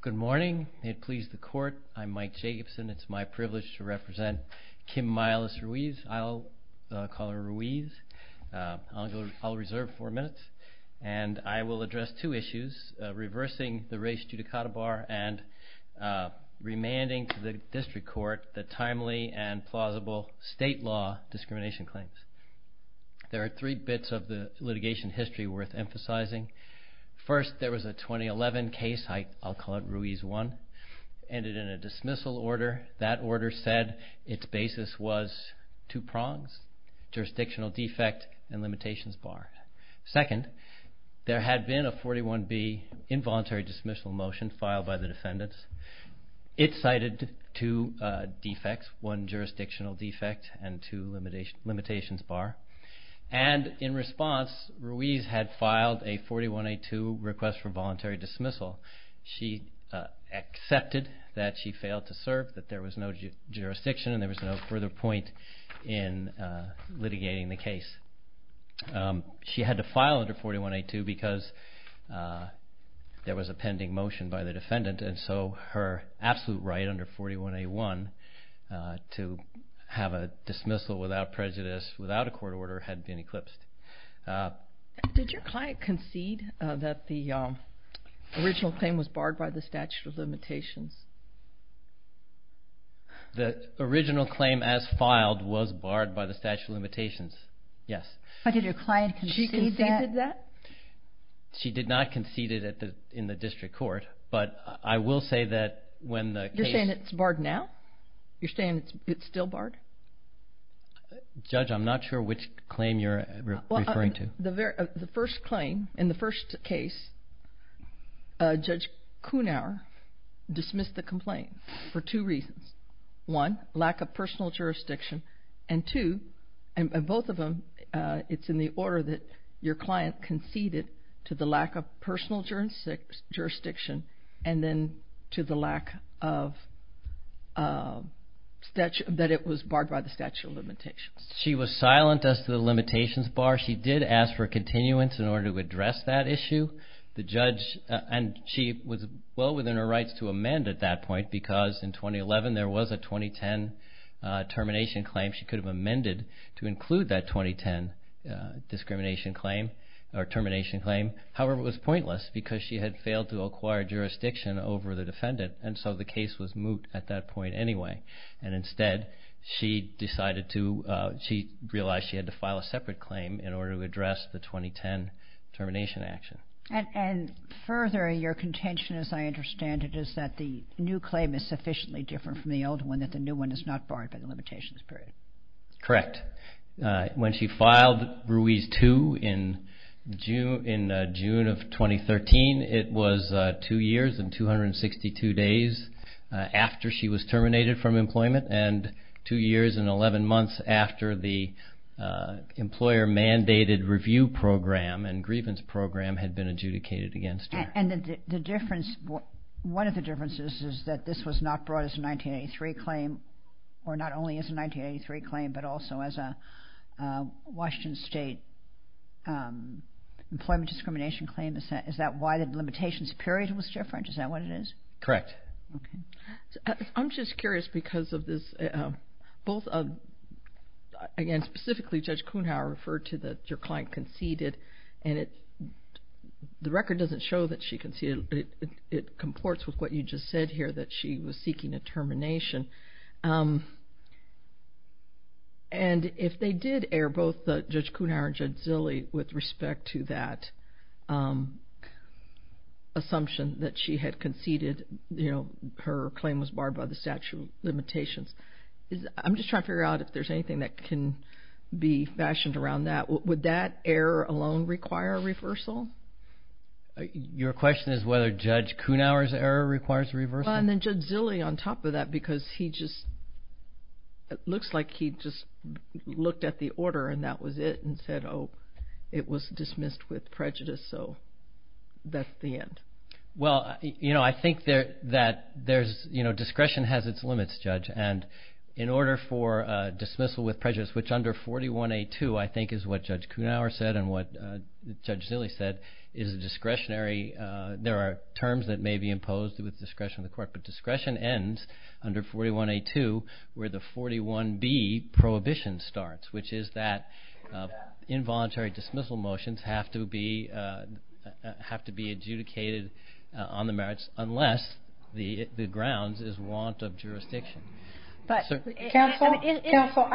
Good morning. May it please the court, I'm Mike Jacobson. It's my privilege to represent Kim Myles Ruiz. I'll call her Ruiz. I'll reserve four minutes. And I will address two issues, reversing the race judicata bar and remanding to the district court the timely and plausible state law discrimination claims. There are three bits of the litigation history worth emphasizing. First, there was a 2011 case, I'll call it Ruiz 1, ended in a dismissal order. That order said its basis was two prongs, jurisdictional defect and limitations bar. Second, there had been a 41B involuntary dismissal motion filed by the defendants. It cited two defects, one jurisdictional defect and two limitations bar. And in response, Ruiz had filed a 41A2 request for voluntary dismissal. She accepted that she failed to serve, that there was no jurisdiction and there was no further point in litigating the case. She had to file under 41A2 because there was a pending motion by the defendant and so her absolute right under 41A1 to have a dismissal without prejudice without a court order had been eclipsed. Did your client concede that the original claim was barred by the statute of limitations? The original claim as filed was barred by the statute of limitations, yes. But did your client concede that? She conceded that. She did not concede it in the district court, but I will say that when the case... You're saying it's barred now? You're saying it's still barred? Judge, I'm not sure which claim you're referring to. The first claim, in the first case, Judge Kunauer dismissed the complaint for two reasons. One, lack of personal jurisdiction, and two, and both of them, it's in the order that your client conceded to the lack of personal jurisdiction and then to the lack of... that it was barred by the statute of limitations. She was silent as to the limitations bar. She did ask for continuance in order to address that issue. The judge... and she was well within her rights to amend at that point because in 2011 there was a 2010 termination claim she could have amended to include that 2010 discrimination claim or termination claim. However, it was pointless because she had failed to acquire jurisdiction over the defendant, and so the case was moved at that point anyway. And instead, she decided to... a separate claim in order to address the 2010 termination action. And further, your contention as I understand it is that the new claim is sufficiently different from the old one that the new one is not barred by the limitations period. Correct. When she filed Ruiz 2 in June of 2013, it was two years and 262 days after she was terminated from employment, and two years and 11 months after the employer-mandated review program and grievance program had been adjudicated against her. And the difference... one of the differences is that this was not brought as a 1983 claim or not only as a 1983 claim but also as a Washington State employment discrimination claim. Is that why the limitations period was different? Is that what it is? Correct. Okay. I'm just curious because of both of... again, specifically Judge Kuhnhauer referred to that your client conceded and the record doesn't show that she conceded. It comports with what you just said here that she was seeking a termination. And if they did air both Judge Kuhnhauer and Judge Zille with respect to that assumption that she had conceded, you know, her claim was barred by the statute limitations. I'm just trying to figure out if there's anything that can be fashioned around that. Would that error alone require reversal? Your question is whether Judge Kuhnhauer's error requires reversal? And then Judge Zille on top of that because he just... it looks like he just looked at the order and that was it and said, oh, it was dismissed with prejudice so that's the end. Well, you know, I think that there's... you know, discretion has its limits, Judge, and in order for dismissal with prejudice, which under 41A2 I think is what Judge Kuhnhauer said and what Judge Zille said is discretionary. There are terms that may be imposed with discretion of the court, but discretion ends under 41A2 where the 41B prohibition starts, which is that involuntary dismissal motions have to be adjudicated on the merits unless the grounds is warrant of jurisdiction. But... Counsel? Counsel,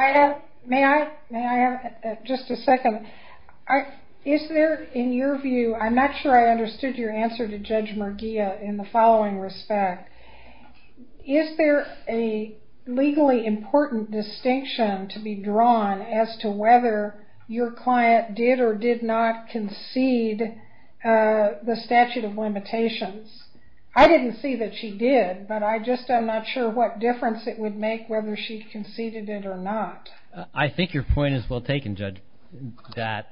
may I have just a second? Is there, in your view, I'm not sure I understood your answer to Judge Merguia in the following respect. Is there a legally important distinction to be drawn as to whether your client did or did not concede the statute of limitations? I didn't see that she did, but I just am not sure what difference it would make whether she conceded it or not. I think your point is well taken, Judge, that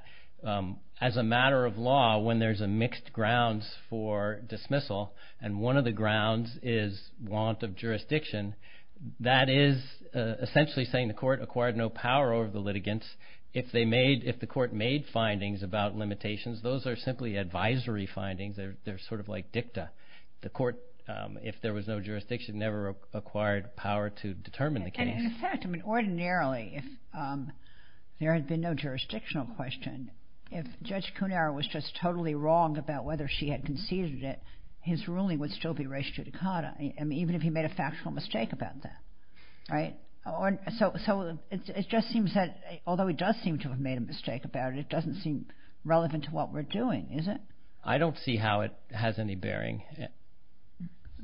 as a matter of law, when there's a mixed grounds for dismissal and one of the grounds is warrant of jurisdiction, that is essentially saying the court acquired no power over the litigants. If they made, if the court made findings about limitations, those are simply advisory findings. They're sort of like dicta. The court, if there was no jurisdiction, never acquired power to determine the case. And in fact, ordinarily, if there had been no jurisdictional question, if Judge Cunaro was just totally wrong about whether she had conceded it, his ruling would still be res judicata, even if he made a factual mistake about that. Right? So it just seems that, although he does seem to have made a mistake about it, it doesn't seem relevant to what we're doing, is it? I don't see how it has any bearing.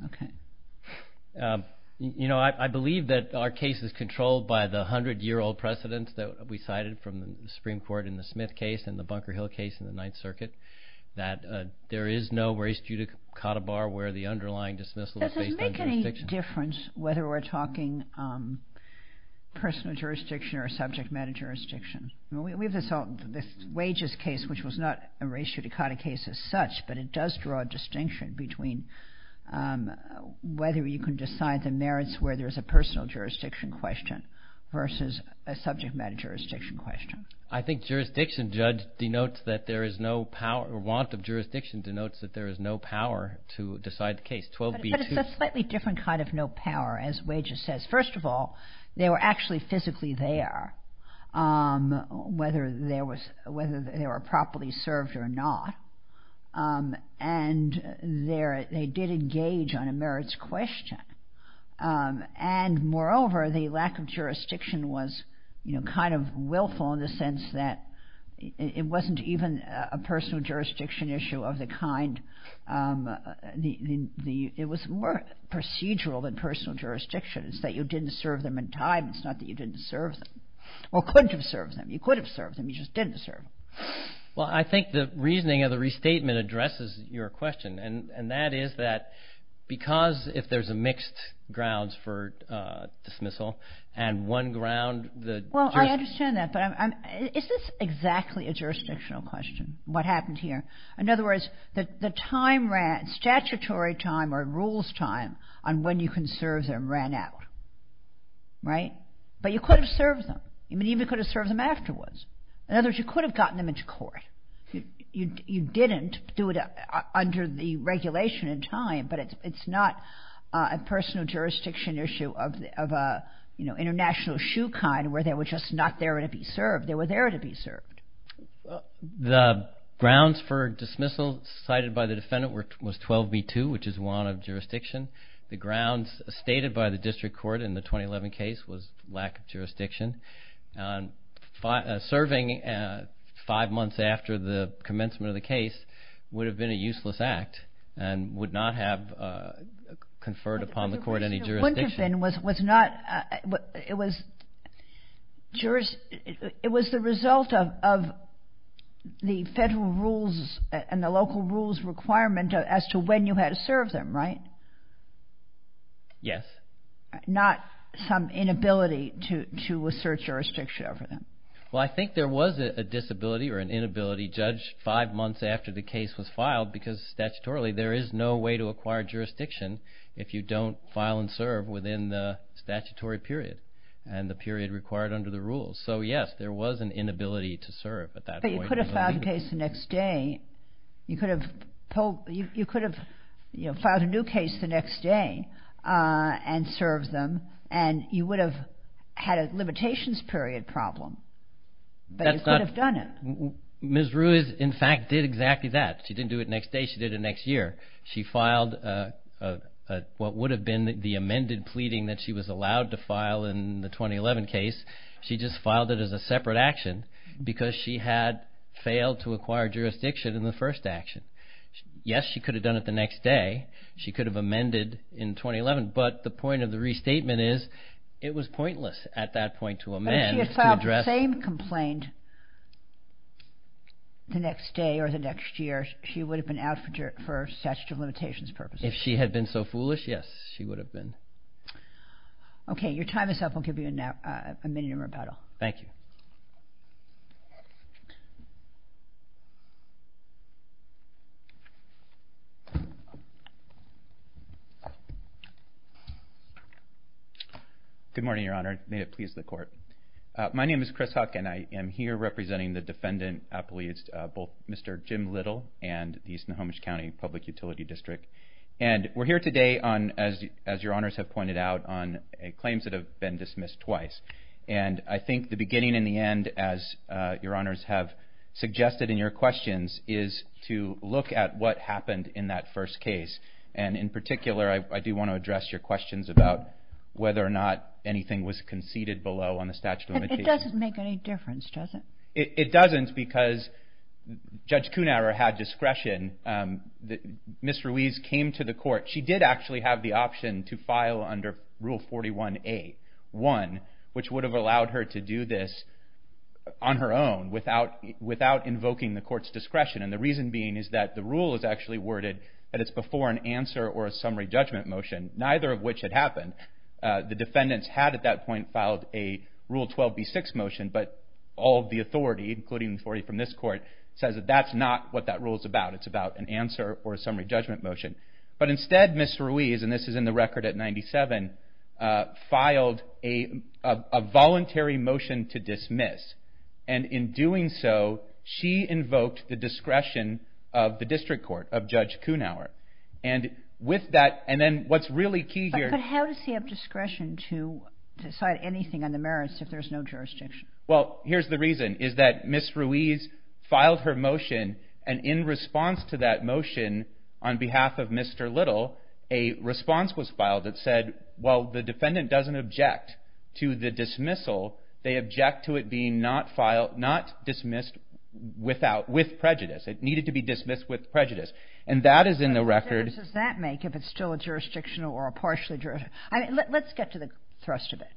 Okay. You know, I believe that our case is controlled by the hundred-year-old precedence that we cited from the Supreme Court in the Smith case and the Bunker Hill case in the Ninth Circuit, that there is no res judicata bar where the underlying dismissal is based on jurisdiction. Does it make any difference whether we're talking personal jurisdiction or subject matter jurisdiction? We have this wages case, which was not a res judicata case as such, but it does draw a distinction between whether you can decide the merits where there's a personal jurisdiction question versus a subject matter jurisdiction question. I think jurisdiction, Judge, denotes that there is no power or want of jurisdiction denotes that there is no power to decide the case. But it's a slightly different kind of no power, as wages says. First of all, they were actually physically there, whether they were properly served or not, and they did engage on a merits question. And moreover, the lack of jurisdiction was kind of willful in the sense that it wasn't even a personal jurisdiction issue of the kind. It was more procedural than personal jurisdiction. It's that you didn't serve them in time. It's not that you didn't serve them or couldn't have served them. You could have served them. You just didn't serve them. Well, I think the reasoning of the restatement addresses your question, and that is that because if there's a mixed grounds for dismissal and one ground that... Well, I understand that. But is this exactly a jurisdictional question, what happened here? In other words, the statutory time or rules time on when you can serve them ran out, right? But you could have served them. You even could have served them afterwards. In other words, you could have gotten them into court. You didn't do it under the regulation in time, but it's not a personal jurisdiction issue of an international shoe kind where they were just not there to be served. They were there to be served. The grounds for dismissal cited by the defendant was 12b-2, which is one of jurisdiction. The grounds stated by the district court in the 2011 case was lack of jurisdiction. Serving five months after the commencement of the case would have been a useless act and would not have conferred upon the court any jurisdiction. It was the result of the federal rules and the local rules requirement as to when you had to serve them, right? Yes. Not some inability to assert jurisdiction over them. Well, I think there was a disability or an inability judged five months after the case was filed because statutorily there is no way to acquire jurisdiction if you don't file and serve within the statutory period and the period required under the rules. So, yes, there was an inability to serve at that point. But you could have filed a case the next day. You could have filed a new case the next day and served them and you would have had a limitations period problem. But you could have done it. Ms. Ruiz, in fact, did exactly that. She didn't do it next day. She did it next year. She filed what would have been the amended pleading that she was allowed to file in the 2011 case. She just filed it as a separate action because she had failed to acquire jurisdiction in the first action. Yes, she could have done it the next day. She could have amended in 2011. But the point of the restatement is it was pointless at that point to amend. But if she had filed the same complaint the next day or the next year, she would have been out for statutory limitations purposes. If she had been so foolish, yes, she would have been. Okay. Your time is up. We'll give you a minute in rebuttal. Thank you. Good morning, Your Honor. May it please the court. My name is Chris Huck, and I am here representing the defendant both Mr. Jim Little and the East Nahomish County Public Utility District. And we're here today on, as Your Honors have pointed out, the end of this hearing is going to be a little bit different. We're going to be talking about what happened in that first case. And in particular, I do want to address your questions about whether or not anything was conceded below on the statute of limitations. It doesn't make any difference, does it? It doesn't because Judge Kuhnauer had discretion. Ms. Ruiz came to the court. She did actually have the option to file under Rule 41A1, which would have allowed her to do this. She did this on her own without invoking the court's discretion. And the reason being is that the rule is actually worded that it's before an answer or a summary judgment motion, neither of which had happened. The defendants had at that point filed a Rule 12B6 motion, but all the authority, including the authority from this court, says that that's not what that rule is about. It's about an answer or a summary judgment motion. But instead, Ms. Ruiz, and this is in the record at 97, filed a voluntary motion to dismiss. And in doing so, she invoked the discretion of the district court of Judge Kuhnauer. And with that, and then what's really key here... But how does he have discretion to decide anything on the merits if there's no jurisdiction? Well, here's the reason, is that Ms. Ruiz filed her motion, and in response to that motion, on behalf of Mr. Little, a response to that motion was issued. And the response was filed that said, while the defendant doesn't object to the dismissal, they object to it being not dismissed with prejudice. It needed to be dismissed with prejudice. And that is in the record... What difference does that make if it's still jurisdictional or partially jurisdictional? Let's get to the thrust of it.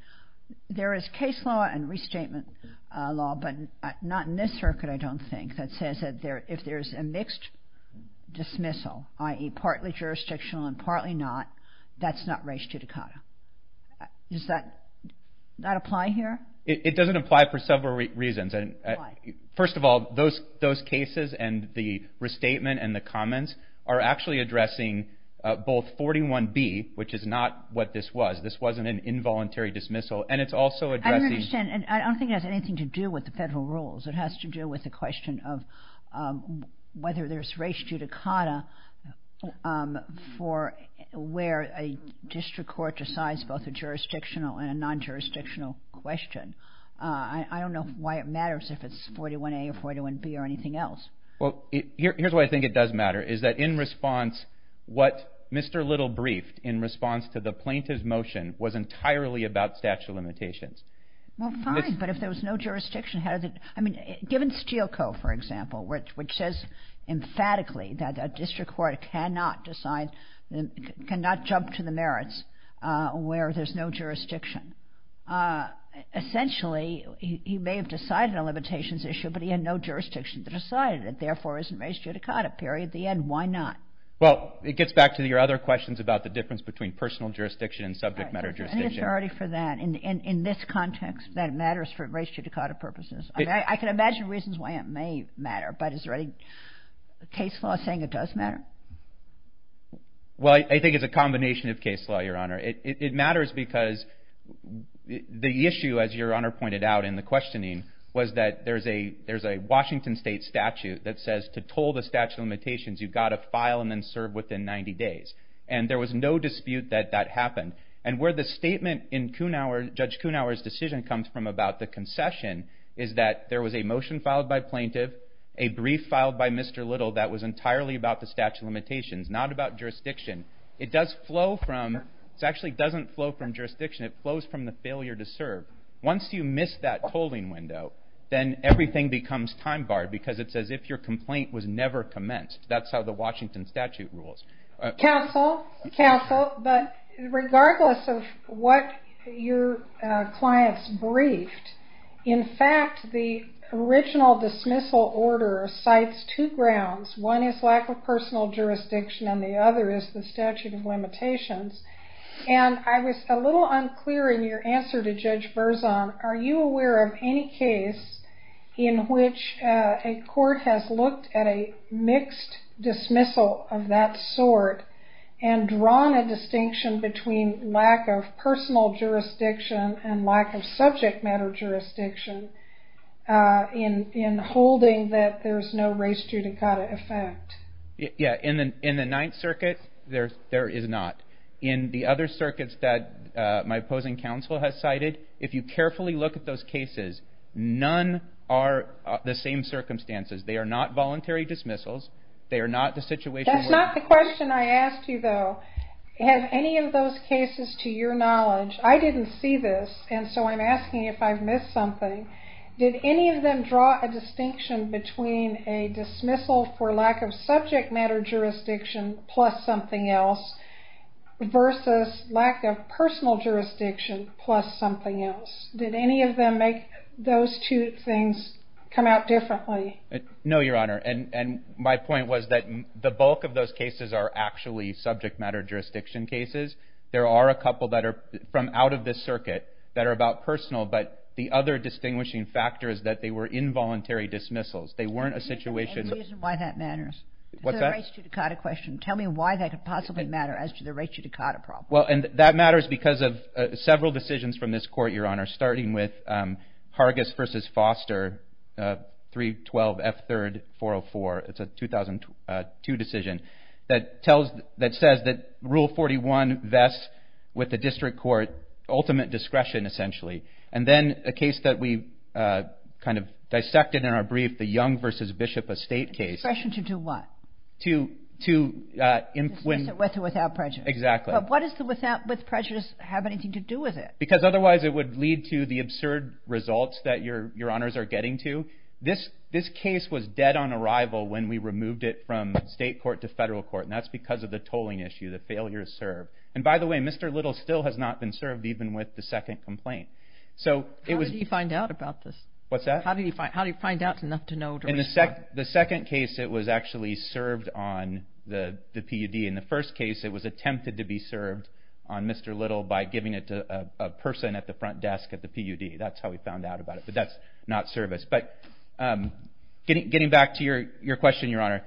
There is case law and restatement law, but not in this circuit, I don't think, that says that if there's a mixed dismissal, i.e., partly jurisdictional and partly not, that's not res judicata. Does that apply here? It doesn't apply for several reasons. First of all, those cases and the restatement and the comments are actually addressing both 41B, which is not what this was, this wasn't an involuntary dismissal, and it's also addressing... I don't understand. I don't think it has anything to do with the federal rules. It has to do with the question of whether there's res judicata for where a district court decides both a jurisdictional and a non-jurisdictional question. I don't know why it matters if it's 41A or 41B or anything else. Well, here's why I think it does matter, is that in response, what Mr. Little briefed in response to the plaintiff's motion was entirely about statute of limitations. Well, fine, but if there was no jurisdiction, how does it... Given Steele Co., for example, which says emphatically that a district court cannot decide, cannot jump to the merits where there's no jurisdiction. Essentially, he may have decided a limitations issue, but he had no jurisdiction to decide it. It therefore isn't res judicata, period. The end. Why not? Well, it gets back to your other questions about the difference between personal jurisdiction and subject matter jurisdiction. In this context, that matters for the plaintiff, but is there any case law saying it does matter? Well, I think it's a combination of case law, Your Honor. It matters because the issue, as Your Honor pointed out in the questioning, was that there's a Washington state statute that says to toll the statute of limitations, you've got to file and then serve within 90 days. And there was no dispute that that happened. And where the statement in Judge Kunawer's decision comes from about the concession is that there was a motion filed by plaintiff, a brief filed by Mr. Little that was entirely about the statute of limitations, not about jurisdiction. It does flow from, it actually doesn't flow from jurisdiction, it flows from the failure to serve. Once you miss that tolling window, then everything becomes time-barred because it's as if your complaint was never commenced. That's how the Washington statute rules. Counsel, counsel, but regardless of what your client's briefed, in fact, the original dismissal order cites two grounds. One is lack of personal jurisdiction and the other is the statute of limitations. And I was a little unclear in your answer to Judge Verzon, are you aware of any case in which a court has looked at a mixed dismissal of that sort and drawn a distinction between lack of personal jurisdiction and lack of subject matter jurisdiction in holding that there's no race judicata effect? Yeah, in the Ninth Circuit there is not. In the other circuits that my opposing counsel has cited, if you carefully look at those cases, none are the same circumstances. They are not voluntary dismissals, they are not the situation where... That's not the question I asked you, though. Have any of those cases to your knowledge... I didn't see this and so I'm asking if I've missed something. Did any of them draw a distinction between a dismissal for lack of subject matter jurisdiction plus something else versus lack of personal jurisdiction plus something else? Did any of them make those two things come out differently? No, Your Honor. My point was that the bulk of those cases are actually subject matter jurisdiction cases. There are a couple that are from out of this circuit that are about personal, but the other distinguishing factor is that they were involuntary dismissals. They weren't a situation... Tell me the reason why that matters. What's that? The race judicata question. Tell me why that could possibly matter as to the race judicata problem. Well, and that matters because of several decisions from this Court, Your Honor, starting with Hargis v. Foster, 312 F. 3rd 404. It's a 2002 decision that says that Rule 41 vests with the District Court ultimate discretion, essentially. And then a case that we kind of dissected in our brief, the Young v. Bishop Estate case... Discretion to do what? To... To dismiss it with or without prejudice. Exactly. But what does the without prejudice have anything to do with it? Because otherwise it would lead to the absurd results that Your Honors are getting to. This case was dead on arrival when we removed it from State Court to Federal Court, and that's because of the tolling issue. The failure to serve. And by the way, Mr. Little still has not been served, even with the second complaint. How did he find out about this? What's that? How did he find out? In the second case, it was actually served on the PUD. In the first case, it was attempted to be served on Mr. Little by giving it to a person at the front desk at the PUD. That's how we found out about it. But that's not service. But getting back to your question, Your Honor,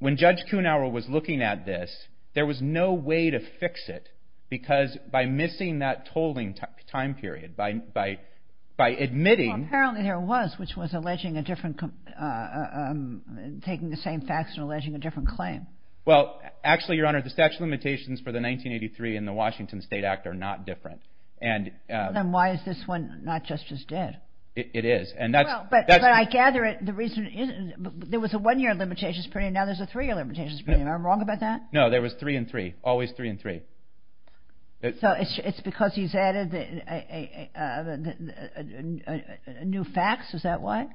when Judge Kuhnauer was looking at this, there was no way to fix it. Because by missing that tolling time period, by admitting... Apparently there was, which was alleging a different... taking the same facts and alleging a different claim. Actually, Your Honor, the statute of limitations for the 1983 and the Washington State Act are not different. Then why is this one not just as dead? But I gather there was a one-year limitations period, now there's a three-year limitations period. Am I wrong about that? No, there was three and three. Always three and three. So it's because he's added new facts? Is that why?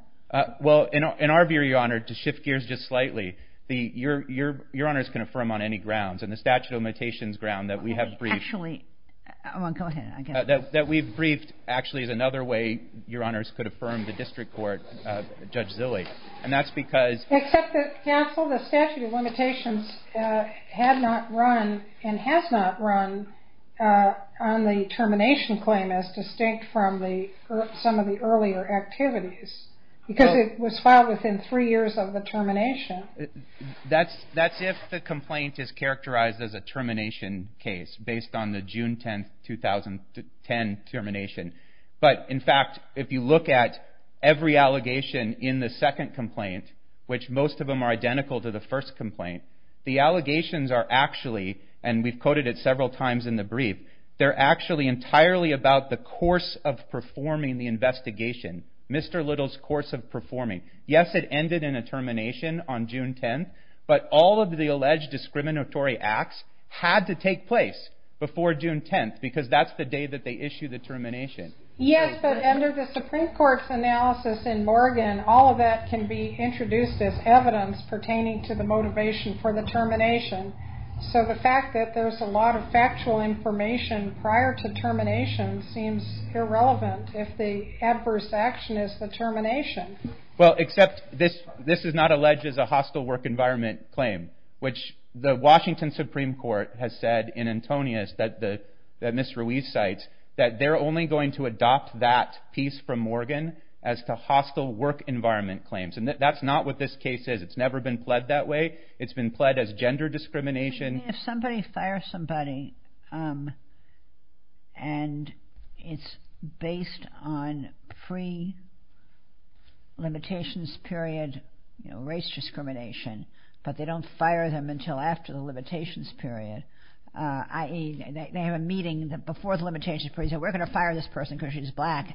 Well, in our view, Your Honor, to shift gears just slightly, Your Honor is going to affirm on any grounds and the statute of limitations grounds that we have That we've briefed actually is another way Your Honor could affirm the district court, Judge Zille. And that's because... Except that, counsel, the statute of limitations had not run and has not run on the termination claim as distinct from some of the earlier activities. Because it was filed within three years of the termination. That's if the complaint is characterized as a termination case based on the June 10, 2010 termination. But, in fact, if you look at every allegation in the second complaint, which most of them are identical to the first complaint, the allegations are actually, and we've quoted it several times in the brief, they're actually entirely about the course of performing the investigation. Mr. Little's course of performing. Yes, it ended in a termination on June 10, but all of the alleged discriminatory acts had to take place before June 10, because that's the day that they issue the termination. Yes, but under the Supreme Court's analysis in Morgan, all of that can be introduced as evidence pertaining to the motivation for the termination. So the fact that there's a lot of factual information prior to termination seems irrelevant if the adverse action is the termination. Well, except this is not alleged as a hostile work environment claim, which the Washington Supreme Court has said in Antonius that Ms. Ruiz cites, that they're only going to adopt that piece from Morgan as to hostile work environment claims. And that's not what this case is. It's never been pled that way. It's been pled as gender discrimination. If somebody fires somebody and it's based on free limitations period or race discrimination, but they don't fire them until after the limitations period, i.e. they have a meeting before the limitations period, and say, we're going to fire this person because she's black,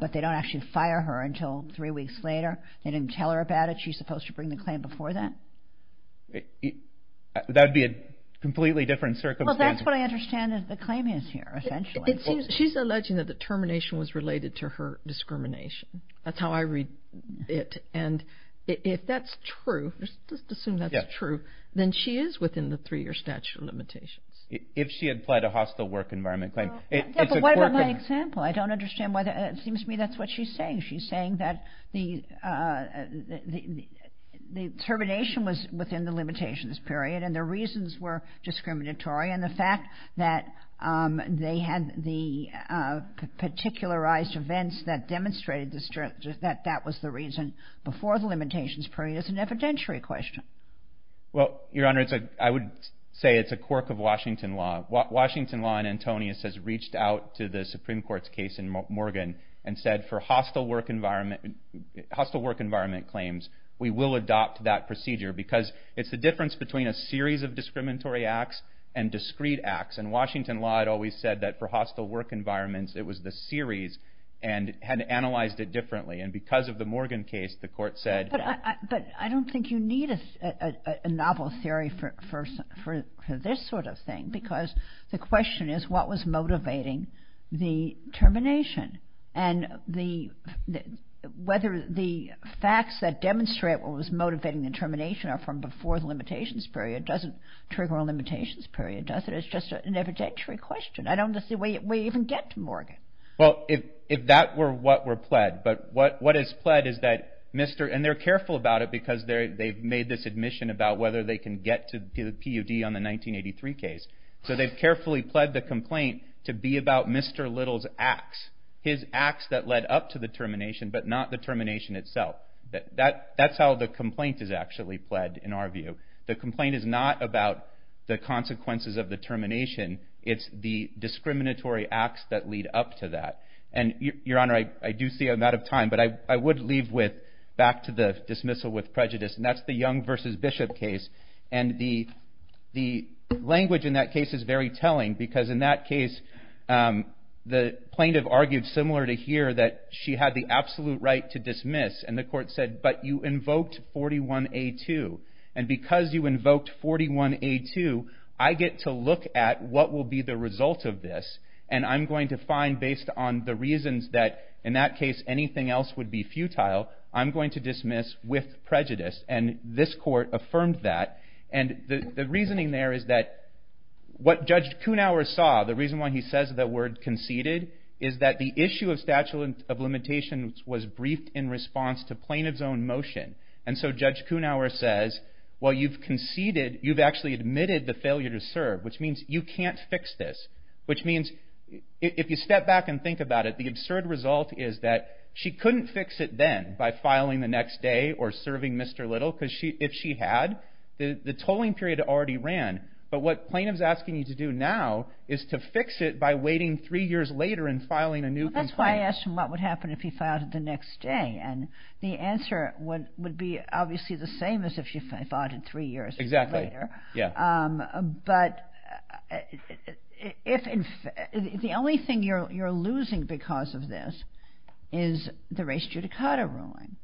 but they don't actually fire her until three weeks later. They didn't tell her about it. She's supposed to bring the claim before that? That would be a completely different circumstance. Well, that's what I understand the claim is here, essentially. She's alleging that the termination was related to her discrimination. That's how I read it. And if that's true, just assume that's true, then she is within the three-year statute of limitations. If she had pled a hostile work environment claim. What about my example? I don't understand. It seems to me that's what she's saying. She's saying that the termination was within the limitations period, and the reasons were discriminatory, and the fact that they had the particularized events that demonstrated that that was the reason before the limitations period is an evidentiary question. Well, Your Honor, I would say it's a quirk of Washington law. Washington law and Antonius has reached out to the Supreme Court's case in Morgan and said, for hostile work environment claims, we will adopt that procedure because it's the difference between a series of discriminatory acts and discrete acts. And Washington law had always said that for hostile work environments, it was the series and had analyzed it differently. And because of the Morgan case, the Court said... But I don't think you need a novel theory for this sort of thing, because the question is, what was motivating the termination? And whether the facts that demonstrate what was motivating the termination are from before the limitations period doesn't trigger a limitations period, does it? It's just an evidentiary question. I don't see we even get to Morgan. Well, if that were what were pled, but what is pled is that Mr... And they're careful about it because they've made this admission about whether they can get to the PUD on the 1983 case. So they've carefully pled the complaint to be about Mr. Little's acts, his acts that led up to the termination, but not the termination itself. That's how the complaint is actually pled, in our view. The complaint is not about the consequences of the termination. It's the discriminatory acts that lead up to that. And, Your Honor, I do see I'm out of time, but I would leave with, back to the dismissal with prejudice, and that's the Young versus Bishop case. And the language in that case is very telling, because in that case, the plaintiff argued similar to here that she had the absolute right to dismiss, and the Court said, but you invoked 41A2. And because you invoked 41A2, I get to look at what will be the result of this, and I'm going to find, based on the reasons that, in that case, anything else would be futile, I'm going to dismiss with prejudice. And this Court affirmed that. And the reasoning there is that what Judge Kuhnauer saw, the reason why he says the word conceded, is that the issue of statute of limitations was briefed in response to plaintiff's own motion. And so Judge Kuhnauer says, well, you've conceded, you've actually admitted the failure to serve, which means you can't fix this, which means if you step back and think about it, the absurd result is that she couldn't fix it then by filing the next day or serving Mr. Little, because if she had, the tolling period already ran. But what plaintiff's asking you to do now is to fix it by waiting three years later and filing a new complaint. Well, that's why I asked him what would happen if he filed it the next day, and the answer would be obviously the same as if you filed it three years later. Exactly. But if the only thing you're losing because of this is the race judicata ruling.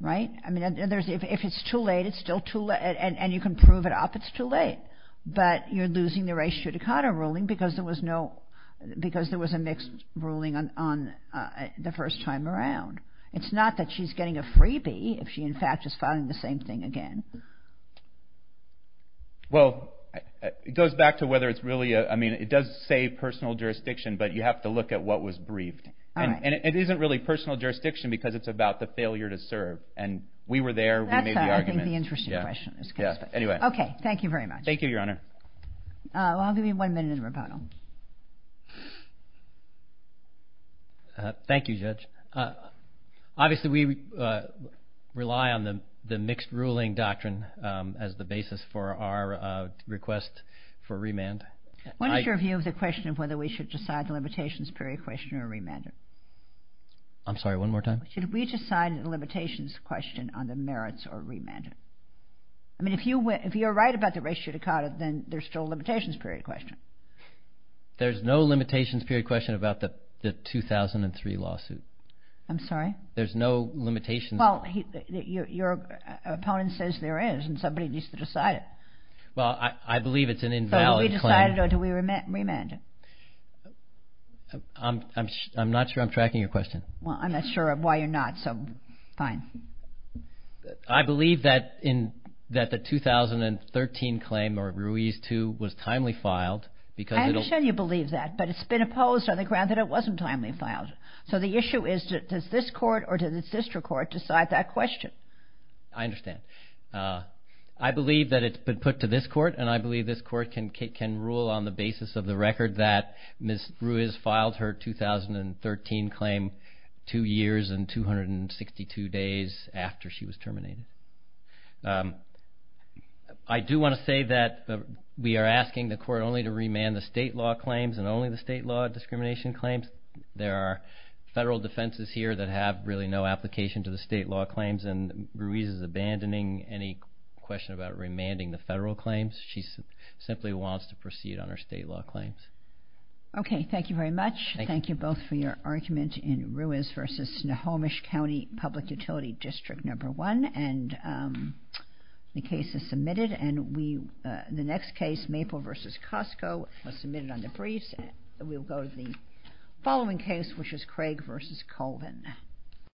Right? I mean, if it's too late, and you can prove it up, it's too late. But you're losing the race judicata ruling because there was a mixed ruling on the first time around. It's not that she's getting a freebie if she, in fact, is filing the same thing again. Well, it goes back to whether it's really, I mean, it does say personal jurisdiction, but you have to look at what was briefed. And it isn't really personal jurisdiction because it's about the failure to serve. And we were there, we made the argument. That's, I think, the interesting question. Anyway. Okay. Thank you very much. Thank you, Your Honor. I'll give you one minute in rebuttal. Thank you, Judge. Obviously, we rely on the mixed ruling doctrine as the basis for our request for remand. What is your view of the question of whether we should decide the limitations period question or remand it? I'm sorry. One more time. Should we decide the limitations question on the merits or remand it? I mean, if you're right about the race judicata, then there's still a limitations period question. There's no limitations period question about the 2003 lawsuit. I'm sorry? There's no limitations. Well, your opponent says there is, and somebody needs to decide it. Well, I believe it's an invalid claim. So do we decide it or do we remand it? I'm not sure I'm tracking your question. Well, I'm not sure why you're not, so fine. I believe that the 2013 claim, or Ruiz 2, was timely filed I understand you believe that, but it's been opposed on the ground that it wasn't timely filed. So the issue is, does this court or does the district court decide that question? I understand. I believe that it's been put to this court, and I believe this court can rule on the basis of the record that Ms. Ruiz filed her 2013 claim two years and 262 days after she was terminated. I do want to say that we are asking the court only to remand the state law claims and only the state law discrimination claims. There are federal defenses here that have really no application to the state law claims and Ruiz is abandoning any question about remanding the federal claims. She simply wants to proceed on her state law claims. Okay, thank you very much. Thank you both for your argument in Ruiz v. Nahomish County Public Utility District No. 1, and the case is submitted. The next case, Maple v. Costco, was submitted on the briefs. We'll go to the following case, which is Craig v. Colvin.